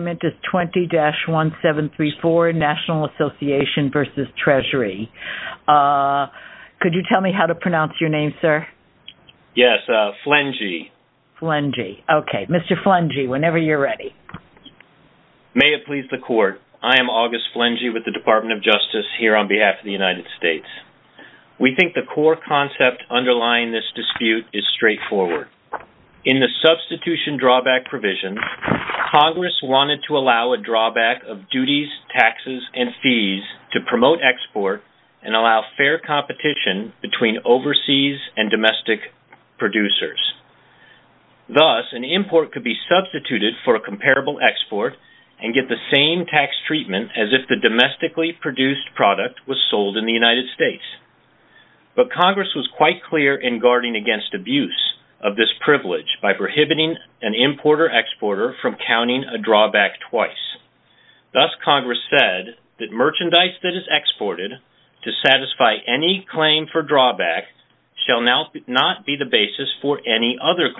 May it please the Court, I am August Flengey with the Department of Justice here on behalf of the United States. We think the core concept underlying this dispute is straightforward. In the substitution drawback provision, Congress wanted to allow a drawback of duties, taxes, and fees to promote export and allow fair competition between overseas and domestic producers. Thus, an import could be substituted for a comparable export and get the same tax treatment as if the domestically produced product was sold in the United States. But Congress was quite clear in guarding against abuse of this privilege by prohibiting an importer-exporter from counting a drawback twice. Thus, Congress said that merchandise that is exported to satisfy any claim for drawback shall not be the basis for any other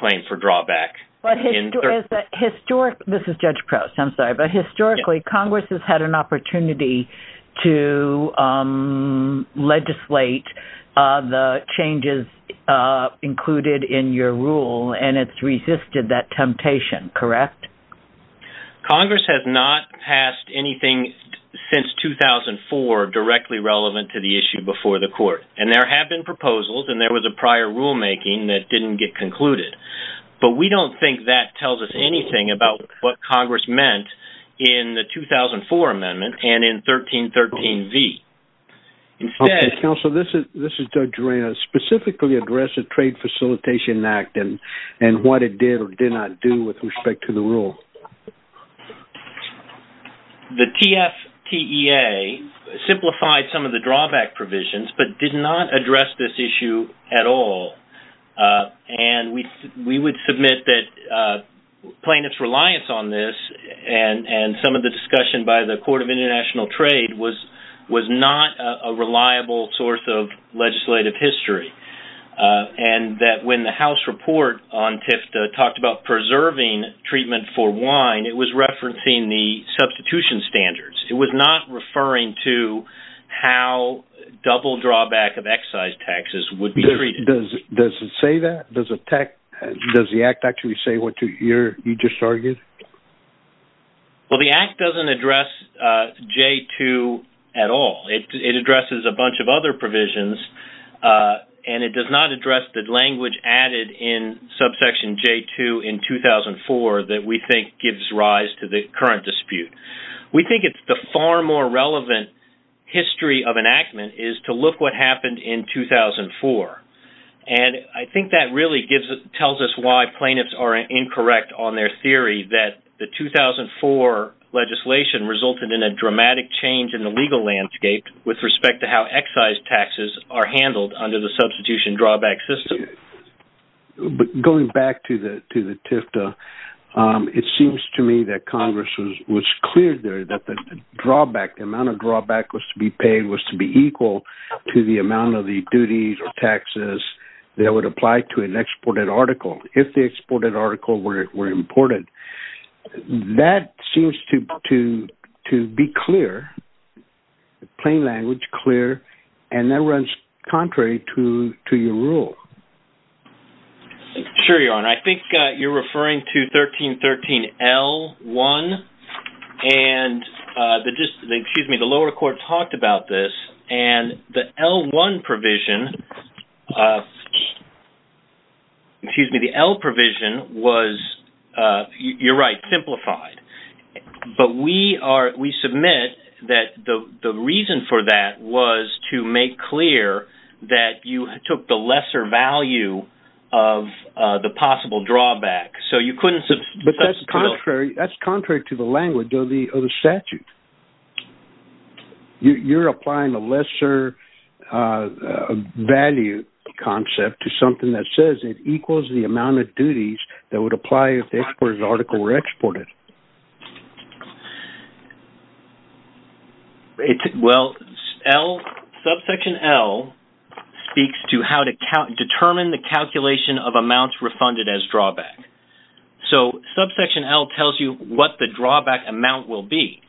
of the changes included in your rule and it's resisted that temptation, correct? Congress has not passed anything since 2004 directly relevant to the issue before the Court. And there have been proposals and there was a prior rulemaking that didn't get concluded. But we don't think that tells us anything about what Congress meant in the 2004 amendment and 1313V. Counselor, this is Doug Gerena. Specifically address the Trade Facilitation Act and what it did or did not do with respect to the rule. The TFTEA simplified some of the drawback provisions but did not address this issue at all. And we would submit that plaintiff's reliance on this and some of the discussion by the Court of International Trade was not a reliable source of legislative history. And that when the House report on TIFTA talked about preserving treatment for wine, it was referencing the substitution standards. It was not referring to how double drawback of excise taxes would be treated. Does it say that? Does the act actually say what you just argued? Well, the act doesn't address J2 at all. It addresses a bunch of other provisions. And it does not address the language added in subsection J2 in 2004 that we think gives rise to the current dispute. We think it's the far more relevant history of enactment is to look what happened in 2004. And I think that really tells us why plaintiffs are incorrect on their theory that the 2004 legislation resulted in a dramatic change in the legal landscape with respect to how excise taxes are handled under the substitution drawback system. Going back to the TIFTA, it seems to me that Congress was clear there that the amount of drawback was to be paid was to be equal to the amount of the duties or taxes that would apply to an exported article if the exported article were imported. That seems to be clear, plain language, clear. And that runs contrary to your rule. Sure, Your Honor. I think you're referring to 1313L1. And the lower court talked about this. And the L1 provision, excuse me, the L provision was, you're right, simplified. But we are, we submit that the reason for that was to make clear that you took the lesser value of the possible drawback. So you couldn't... But that's contrary to the language of the statute. You're applying the lesser value concept to something that says it equals the amount of duties that would apply if the exported article were exported. Well, subsection L speaks to how to determine the calculation of amounts refunded as drawback. So subsection L tells you what the drawback amount will be.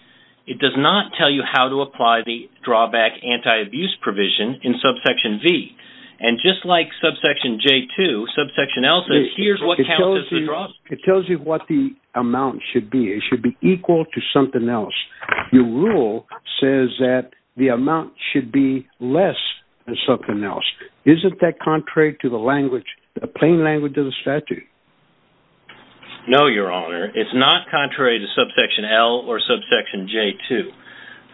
It does not tell you how to apply the drawback anti-abuse provision in subsection V. And just like subsection J2, subsection L says, here's what counts as the drawback. It tells you what the amount should be. It should be equal to something else. Your rule says that the amount should be less than something else. Isn't that contrary to the language, the plain language of the statute? No, Your Honor. It's not contrary to subsection L or subsection J2.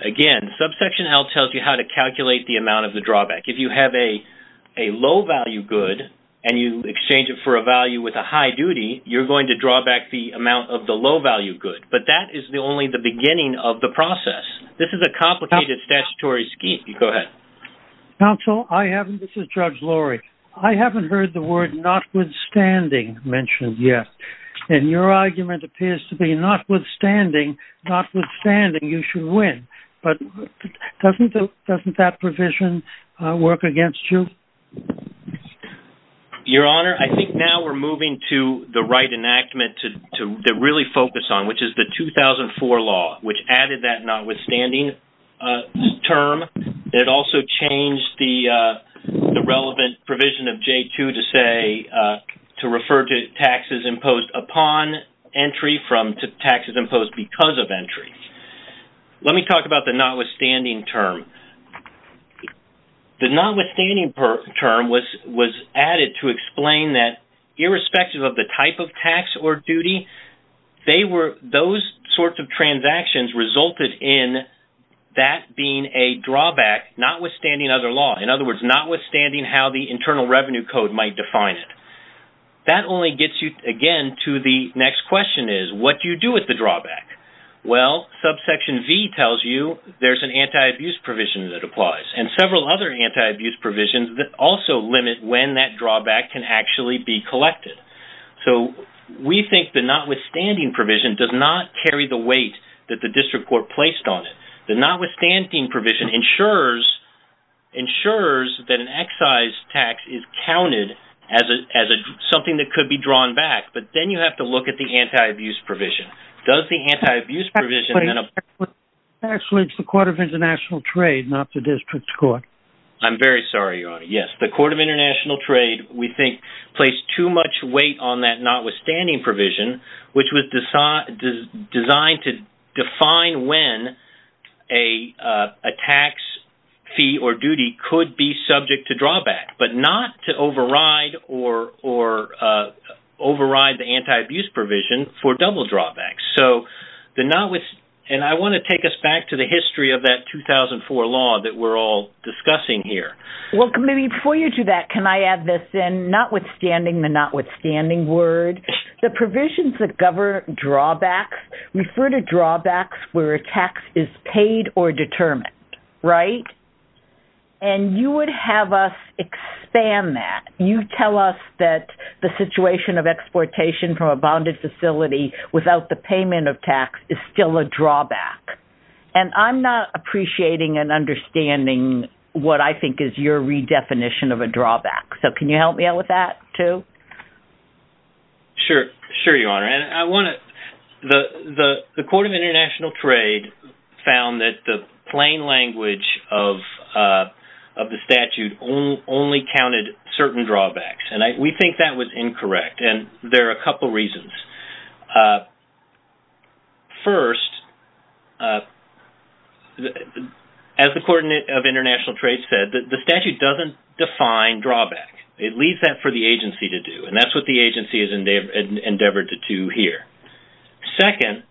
Again, subsection L tells you how to calculate the amount of the drawback. If you have a low-value good and you exchange it for a value with a high duty, you're going to draw back the amount of the low-value good. But that is only the beginning of the process. This is a complicated statutory scheme. Go ahead. Counsel, I haven't, this is Judge Lorry. I haven't heard the word notwithstanding mentioned yet. And your argument appears to be notwithstanding, notwithstanding you should win. But doesn't that provision work against you? Your Honor, I think now we're moving to the right enactment to really focus on, which is the 2004 law, which added that notwithstanding term. It also changed the relevant provision of J2 to say, to refer to taxes imposed upon entry from taxes imposed because of entry. Let me talk about the notwithstanding term. The notwithstanding term was added to explain that irrespective of the type of tax or duty, those sorts of transactions resulted in that being a drawback notwithstanding other law. In other words, notwithstanding how the Internal Revenue Code might define it. That only gets you again to the next question is, what do you do with the drawback? Well, subsection V tells you there's an anti-abuse provision that also limit when that drawback can actually be collected. So we think the notwithstanding provision does not carry the weight that the district court placed on it. The notwithstanding provision ensures that an excise tax is counted as something that could be drawn back. But then you have to look at the anti-abuse provision. Does the anti-abuse provision... Actually, it's the Court of International Trade, not the district court. I'm very sorry, Your Honor. Yes, the Court of International Trade, we think, placed too much weight on that notwithstanding provision, which was designed to define when a tax fee or duty could be subject to drawback, but not to override or override the anti-abuse provision for double drawbacks. And I want to take us back to the history of that 2004 law that we're all discussing here. Well, maybe before you do that, can I add this in? Notwithstanding the notwithstanding word, the provisions that govern drawbacks refer to drawbacks where a tax is paid or determined, right? And you would have us expand that. You tell us that the situation of exportation from a bonded facility without the payment of tax is still a drawback. And I'm not appreciating and understanding what I think is your redefinition of a drawback. So can you help me out with that too? Sure. Sure, Your Honor. The Court of International Trade found that the plain language of the statute only counted certain drawbacks. And we think that was incorrect. And there are a couple of reasons. First, as the Court of International Trade said, the statute doesn't define drawback. It leaves that for the agency to do. And that's what the agency has endeavored to do here. Second,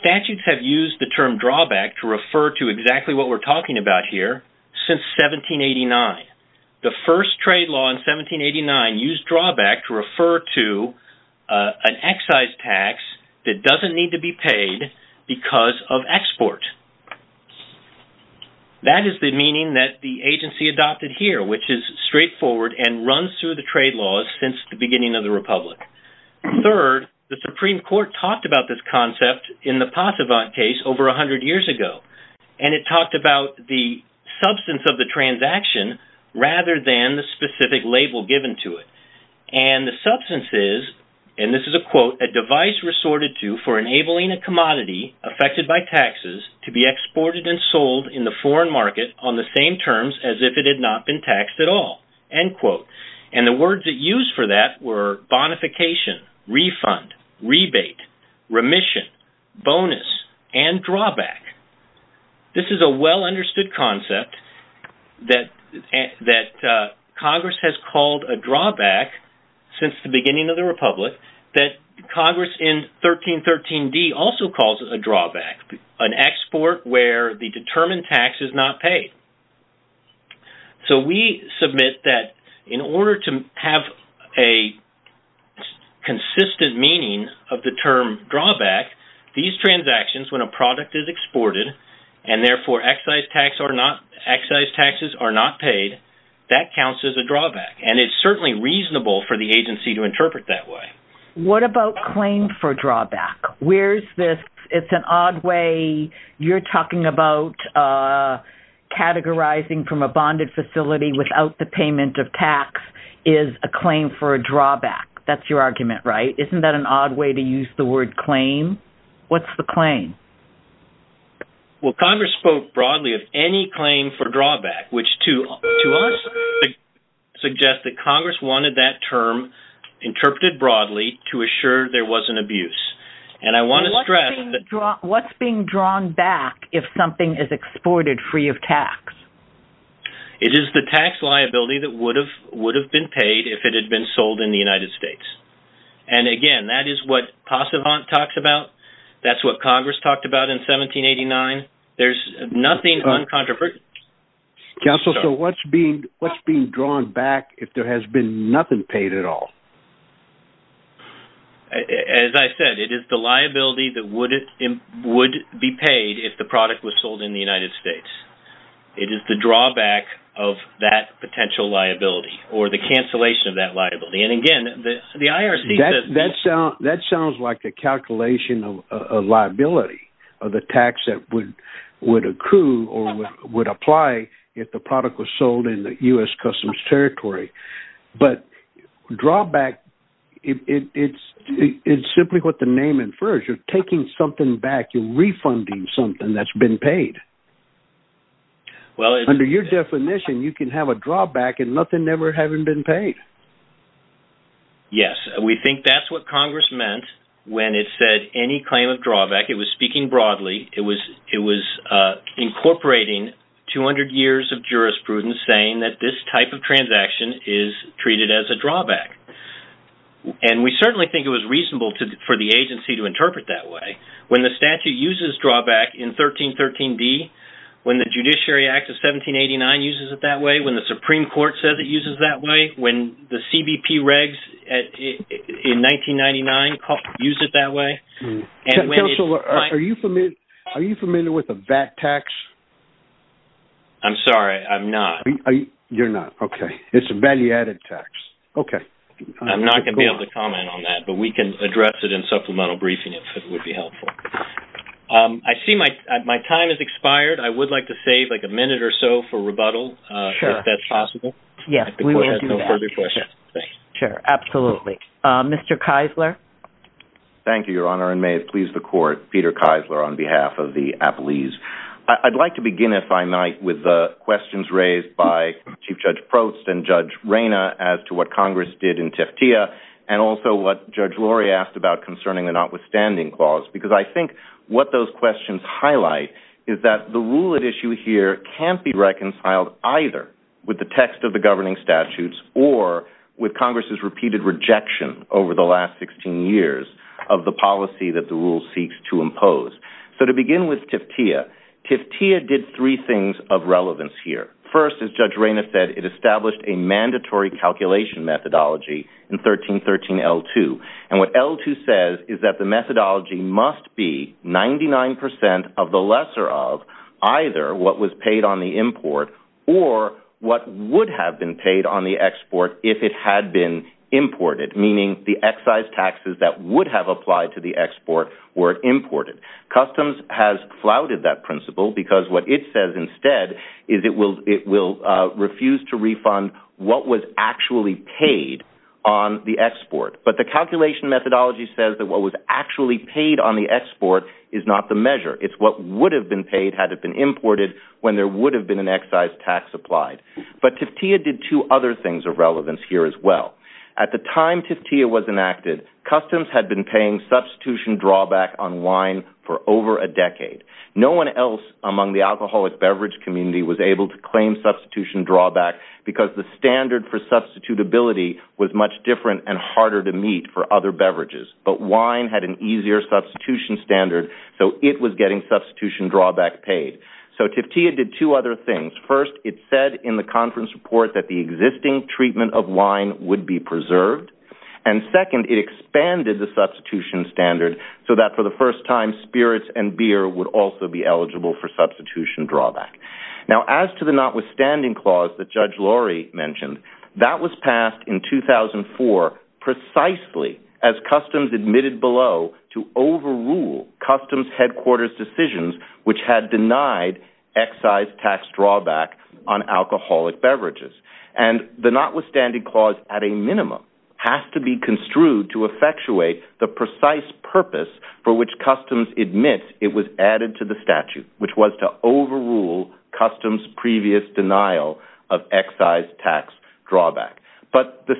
statutes have used the term drawback to refer to exactly what we're an excise tax that doesn't need to be paid because of export. That is the meaning that the agency adopted here, which is straightforward and runs through the trade laws since the beginning of the Republic. Third, the Supreme Court talked about this concept in the Passevant case over 100 years ago. And it talked about the substance of the transaction rather than the specific label given to it. And the substance is, and this is a quote, a device resorted to for enabling a commodity affected by taxes to be exported and sold in the foreign market on the same terms as if it had not been taxed at all, end quote. And the words that used for that were bonification, refund, rebate, remission, bonus, and drawback. This is a well-understood concept that Congress has called a drawback since the beginning of the Republic that Congress in 1313d also calls a drawback, an export where the determined tax is not paid. So we submit that in order to have a consistent meaning of the term drawback, these transactions when a product is exported and therefore excise taxes are not paid, that counts as a drawback. And it's certainly reasonable for the agency to interpret that way. What about claim for drawback? Where's this, it's an odd way, you're talking about categorizing from a bonded facility without the payment of tax is a claim for a drawback. That's your argument, right? Isn't that an odd way to use the word claim? What's the claim? Well, Congress spoke broadly of any claim for drawback, which to suggest that Congress wanted that term interpreted broadly to assure there wasn't abuse. And I want to stress that what's being drawn back if something is exported free of tax, it is the tax liability that would have would have been paid if it had been sold in the United States. And again, that is what Passevant talks about. That's what Congress talked about in 1789. There's nothing uncontroversial. Counsel, so what's being what's being drawn back if there has been nothing paid at all? As I said, it is the liability that would be paid if the product was sold in the United States. It is the drawback of that potential liability or the cancellation of that liability. And again, the IRS, that sounds like a calculation of liability of the tax that would would accrue or would apply if the product was sold in the U.S. Customs Territory. But drawback, it's it's simply what the name infers. You're taking something back. You're refunding something that's been paid. Well, under your definition, you can have a drawback and nothing never having been paid. Yes, we think that's what Congress meant when it said any claim of drawback, it was speaking broadly, it was it was incorporating 200 years of jurisprudence saying that this type of transaction is treated as a drawback. And we certainly think it was reasonable for the agency to interpret that way. When the statute uses drawback in 1313b, when the Judiciary Act of 1789 uses it that way, when the Supreme Court says it uses that way, when the CBP regs in 1999 used it that way. Counselor, are you familiar with the VAT tax? I'm sorry, I'm not. You're not. Okay. It's a value-added tax. Okay. I'm not going to be able to comment on that, but we can address it in supplemental briefing if it would be helpful. I see my time has expired. I would like to save a minute or so for rebuttal, if that's possible. Yes, we will do that. The court has no further questions. Sure, absolutely. Mr. Keisler. Thank you, Your Honor, and may it please the court, Peter Keisler, on behalf of the Appellees. I'd like to begin, if I might, with the questions raised by Chief Judge Prost and Judge Reyna as to what Congress did in Teftia, and also what Judge Lori asked about concerning the notwithstanding clause, because I think what those can't be reconciled either with the text of the governing statutes or with Congress' repeated rejection over the last 16 years of the policy that the rule seeks to impose. So to begin with Teftia, Teftia did three things of relevance here. First, as Judge Reyna said, it established a mandatory calculation methodology in 1313L2, and what L2 says is that the methodology must be 99% of the lesser of either what was paid on the import or what would have been paid on the export if it had been imported, meaning the excise taxes that would have applied to the export were imported. Customs has flouted that principle because what it says instead is it will refuse to refund what was actually paid on the export, but the calculation methodology says that what was actually paid on the export is not the measure. It's what would have been paid had it been imported when there would have been an excise tax applied. But Teftia did two other things of relevance here as well. At the time Teftia was enacted, Customs had been paying substitution drawback on wine for over a decade. No one else among the alcoholic beverage community was able to claim substitution drawback because the standard for substitutability was much different and harder to meet for other beverages, but wine had an easier substitution standard, so it was getting substitution drawback paid. So Teftia did two other things. First, it said in the conference report that the existing treatment of wine would be preserved, and second, it expanded the substitution standard so that for the first time spirits and beer would also be eligible for substitution drawback. Now as to the notwithstanding clause that Judge Lorry mentioned, that was passed in 2004 precisely as Customs admitted below to overrule Customs headquarters decisions which had denied excise tax drawback on alcoholic beverages. And the notwithstanding clause, at a minimum, has to be construed to effectuate the precise purpose for which Customs admits it was added to the statute, which was to overrule Customs' previous denial of excise tax drawback. But the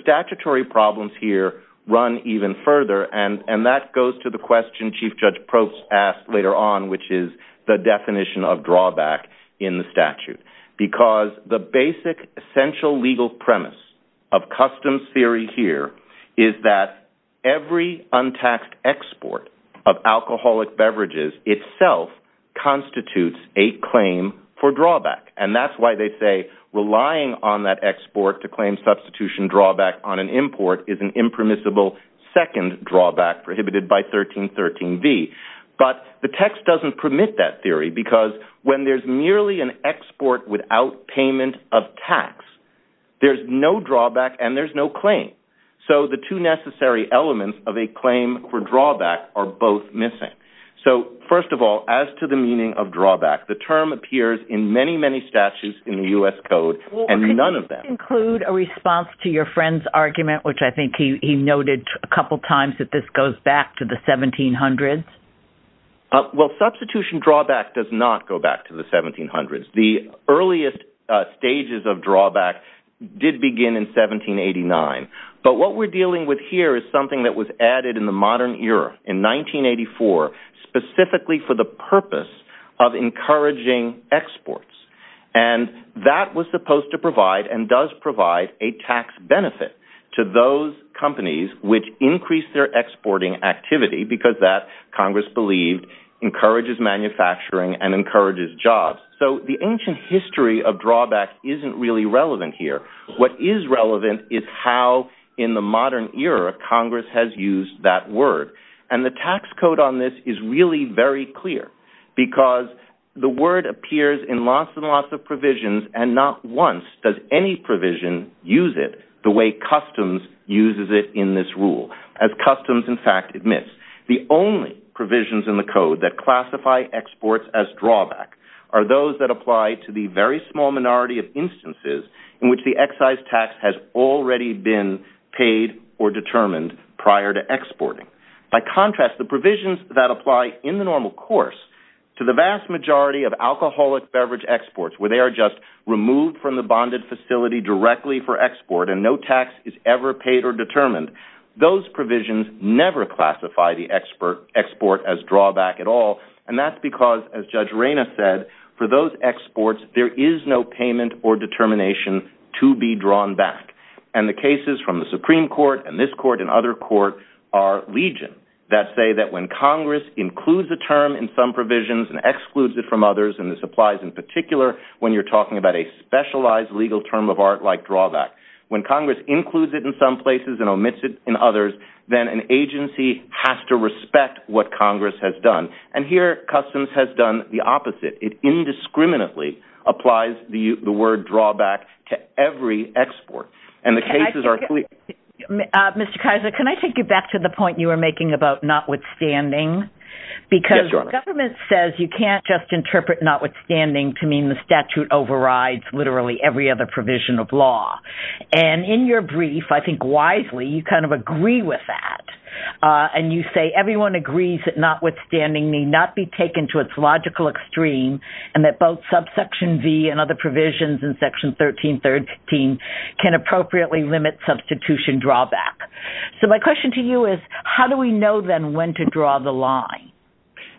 run even further, and that goes to the question Chief Judge Probst asked later on, which is the definition of drawback in the statute. Because the basic essential legal premise of Customs theory here is that every untaxed export of alcoholic beverages itself constitutes a claim for drawback. And that's why they say relying on that export to claim substitution drawback on an import is an impermissible second drawback prohibited by 1313b. But the text doesn't permit that theory because when there's merely an export without payment of tax, there's no drawback and there's no claim. So the two necessary elements of a claim for drawback are both missing. So first of all, as to the meaning of drawback, the term appears in many, many statutes in the U.S. Code and none of them. Can you conclude a response to your friend's argument, which I think he noted a couple times, that this goes back to the 1700s? Well, substitution drawback does not go back to the 1700s. The earliest stages of drawback did begin in 1789. But what we're dealing with here is something that was added in the modern to provide and does provide a tax benefit to those companies which increase their exporting activity because that, Congress believed, encourages manufacturing and encourages jobs. So the ancient history of drawback isn't really relevant here. What is relevant is how, in the modern era, Congress has used that word. And the tax code on this is really very clear because the word appears in lots and lots of provisions and not once does any provision use it the way customs uses it in this rule. As customs, in fact, admits, the only provisions in the code that classify exports as drawback are those that apply to the very small minority of instances in which the excise tax has already been paid or determined prior to exporting. By contrast, the provisions that apply in the normal course to the vast majority of alcoholic beverage exports where they are just removed from the bonded facility directly for export and no tax is ever paid or determined, those provisions never classify the export as drawback at all. And that's because, as Judge Reyna said, for those exports, there is no payment or determination to be drawn back. And the cases from the Supreme Court and this court and other court are legion that say that Congress includes the term in some provisions and excludes it from others. And this applies in particular when you're talking about a specialized legal term of art like drawback. When Congress includes it in some places and omits it in others, then an agency has to respect what Congress has done. And here, customs has done the opposite. It indiscriminately applies the word drawback to every export. And the cases are clear. Mr. Kaiser, can I take you back to the point you were making about notwithstanding? Because government says you can't just interpret notwithstanding to mean the statute overrides literally every other provision of law. And in your brief, I think wisely, you kind of agree with that. And you say everyone agrees that notwithstanding may not be taken to its logical extreme, and that both subsection V and other provisions in section 1313 can appropriately limit substitution drawback. So my question to you is, how do we know then when to draw the line?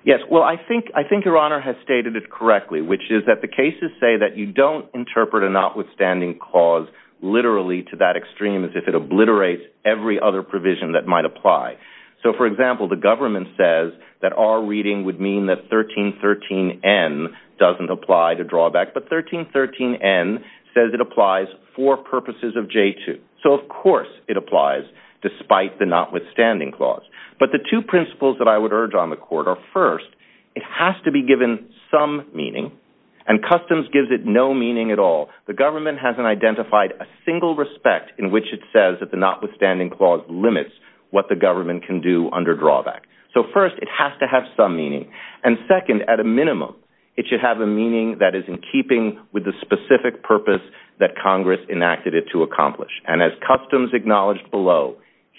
Yes, well, I think Your Honor has stated it correctly, which is that the cases say that you don't interpret a notwithstanding clause literally to that extreme as if it obliterates every other provision that might apply. So for example, the government says that our reading would mean that doesn't apply to drawback, but 1313N says it applies for purposes of J2. So of course it applies despite the notwithstanding clause. But the two principles that I would urge on the court are first, it has to be given some meaning, and customs gives it no meaning at all. The government hasn't identified a single respect in which it says that the notwithstanding clause limits what the government can do under drawback. So first, it has to have some meaning. And second, at a minimum, it should have a meaning that is in keeping with the specific purpose that Congress enacted it to accomplish. And as customs acknowledged below,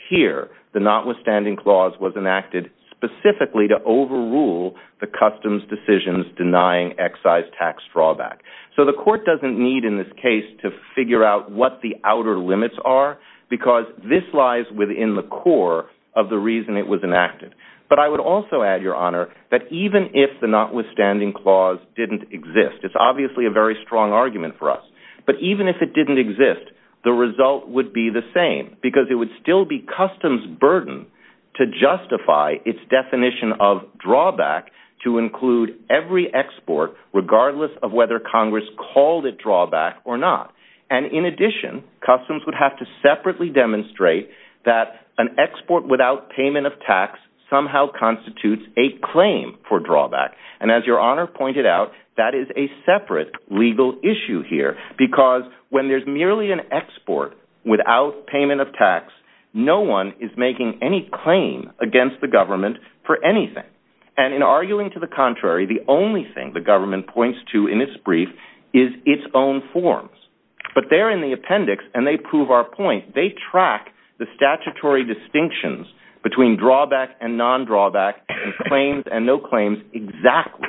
here, the notwithstanding clause was enacted specifically to overrule the customs decisions denying excise tax drawback. So the court doesn't need in this case to figure out what the outer limits are, because this lies within the core of the reason it was enacted. But I would also add, Your Honor, that even if the notwithstanding clause didn't exist, it's obviously a very strong argument for us, but even if it didn't exist, the result would be the same, because it would still be customs' burden to justify its definition of drawback to include every export regardless of whether Congress called it drawback or not. And in addition, customs would have to separately demonstrate that an export without payment of tax somehow constitutes a claim for drawback. And as Your Honor pointed out, that is a separate legal issue here, because when there's merely an export without payment of tax, no one is making any claim against the government for anything. And in arguing to the contrary, the only thing the government points to in its brief is its own forms. But there in the appendix, and they prove our point, they track the statutory distinctions between drawback and non-drawback and claims and no claims exactly.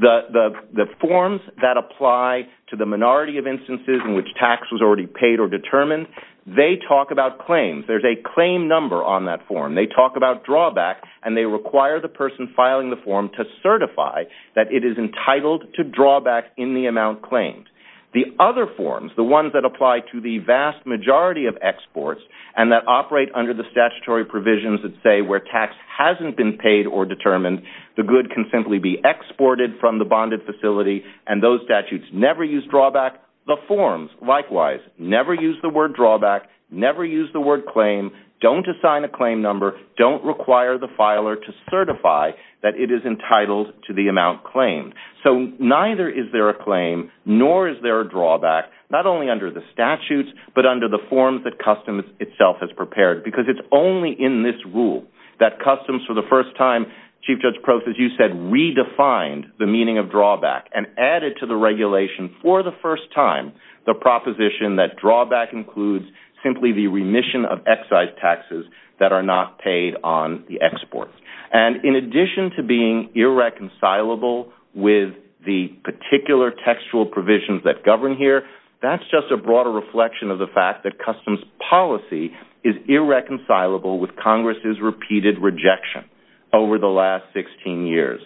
The forms that apply to the minority of instances in which tax was already paid or determined, they talk about claims. There's a claim number on that form. They talk about drawback, and they require the person filing the form to certify that it is entitled to drawback in the amount claimed. The other forms, the ones that apply to the vast majority of exports and that operate under the statutory provisions that say where tax hasn't been paid or determined, the good can simply be exported from the bonded facility, and those statutes never use drawback. The forms, likewise, never use the word drawback, never use the word claim, don't assign a claim number, don't require the filer to certify that it is entitled to the amount claimed. So neither is there a claim, nor is there a drawback, not only under the statutes, but under the forms that Customs itself has prepared, because it's only in this rule that Customs, for the first time, Chief Judge Proffitt, you said, redefined the meaning of drawback and added to the regulation for the first time the proposition that drawback includes simply the remission of excise taxes that are not paid on the exports. And in addition to being irreconcilable with the particular textual provisions that govern here, that's just a broader reflection of the fact that Customs policy is irreconcilable with Congress's repeated rejection over the last 16 years.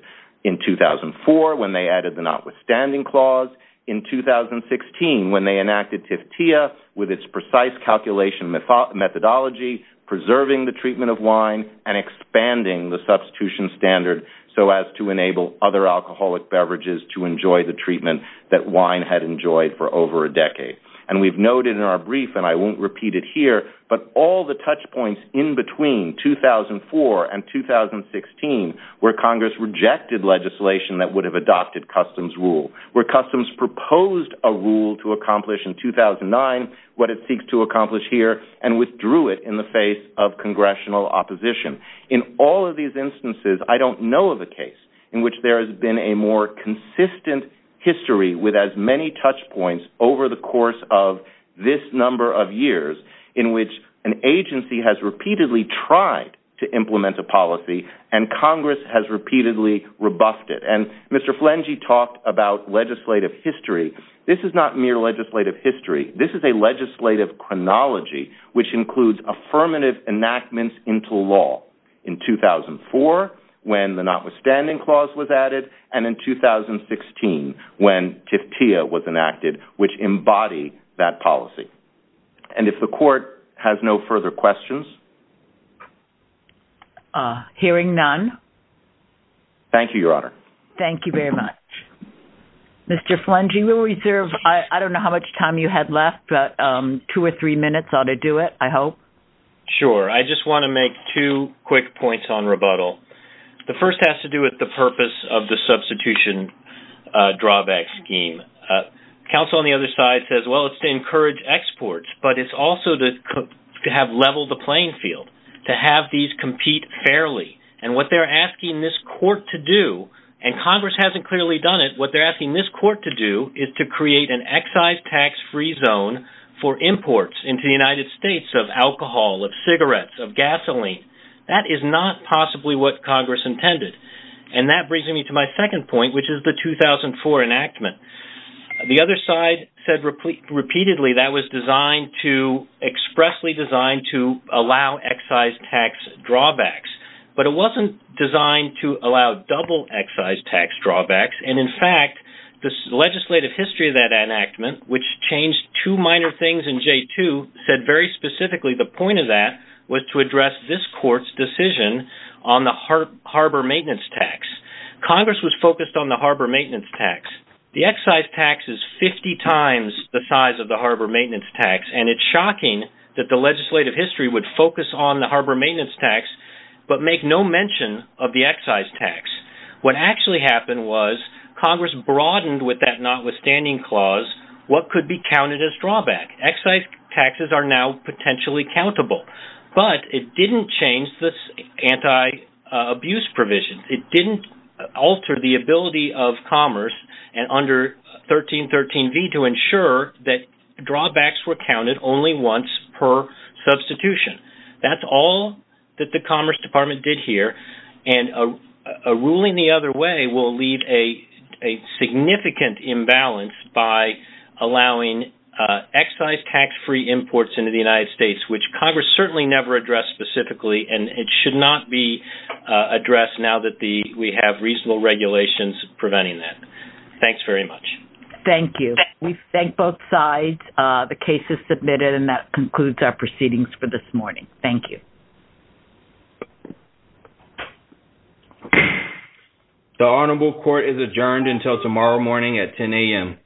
In 2004, when they added the notwithstanding clause, in 2016, when they enacted TIFTIA with its precise calculation methodology, preserving the treatment of wine and expanding the substitution standard so as to enable other alcoholic beverages to enjoy the treatment that wine had enjoyed for over a decade. And we've noted in our brief, and I won't repeat it here, but all the touch points in between 2004 and 2016, where Congress rejected legislation that would have adopted Customs rule, where Customs proposed a rule to accomplish in 2009, what it seeks to accomplish here, and withdrew it in the face of congressional opposition. In all of these instances, I don't know of a case in which there has been a more consistent history with as many touch points over the course of this number of years in which an agency has repeatedly tried to implement a policy and Congress has repeatedly rebuffed it. And Mr. Flangey talked about legislative history. This is not mere legislative history. This is a legislative chronology, which includes affirmative enactments into law in 2004, when the notwithstanding clause was added, and in 2016, when TIFTIA was enacted, which embody that policy. And if the court has no further questions. Hearing none. Thank you, Your Honor. Thank you very much. Mr. Flangey, we reserve, I don't know how much time you had left, but two or three minutes ought to do it, I hope. Sure. I just want to make two quick points on rebuttal. The first has to do with the purpose of the substitution drawback scheme. Counsel on the other side says, well, it's to encourage exports, but it's also to have leveled the playing field, to have these compete fairly. And what they're asking this court to do, and Congress hasn't clearly done it, what they're asking this court to do is to create an excise tax-free zone for imports into the United States of alcohol, of cigarettes, of gasoline. That is not possibly what Congress intended. And that brings me to my second point, which is the 2004 enactment. The other side said repeatedly that was expressly designed to allow excise tax drawbacks, but it wasn't designed to allow double excise tax drawbacks. And in fact, the legislative history of that enactment, which changed two minor things in J2, said very specifically the point of that was to address this court's decision on the harbor maintenance tax. Congress was focused on the harbor maintenance tax. The excise tax is 50 times the size of the harbor maintenance tax, and it's shocking that the legislative history would focus on the harbor maintenance tax, but make no mention of the excise tax. What actually happened was Congress broadened with that notwithstanding clause what could be counted as drawback. Excise taxes are now potentially countable, but it didn't change this anti-abuse provision. It didn't alter the ability of Commerce under 1313V to ensure that drawbacks were counted only once per substitution. That's all that the Commerce Department did here, and a ruling the other way will leave a significant imbalance by allowing excise tax-free imports into the United States, which Congress certainly never addressed specifically, and it should not be addressed now that we have reasonable regulations preventing that. Thanks very much. Thank you. We thank both sides. The case is submitted, and that concludes our proceedings for this morning. Thank you. The Honorable Court is adjourned until tomorrow morning at 10 a.m.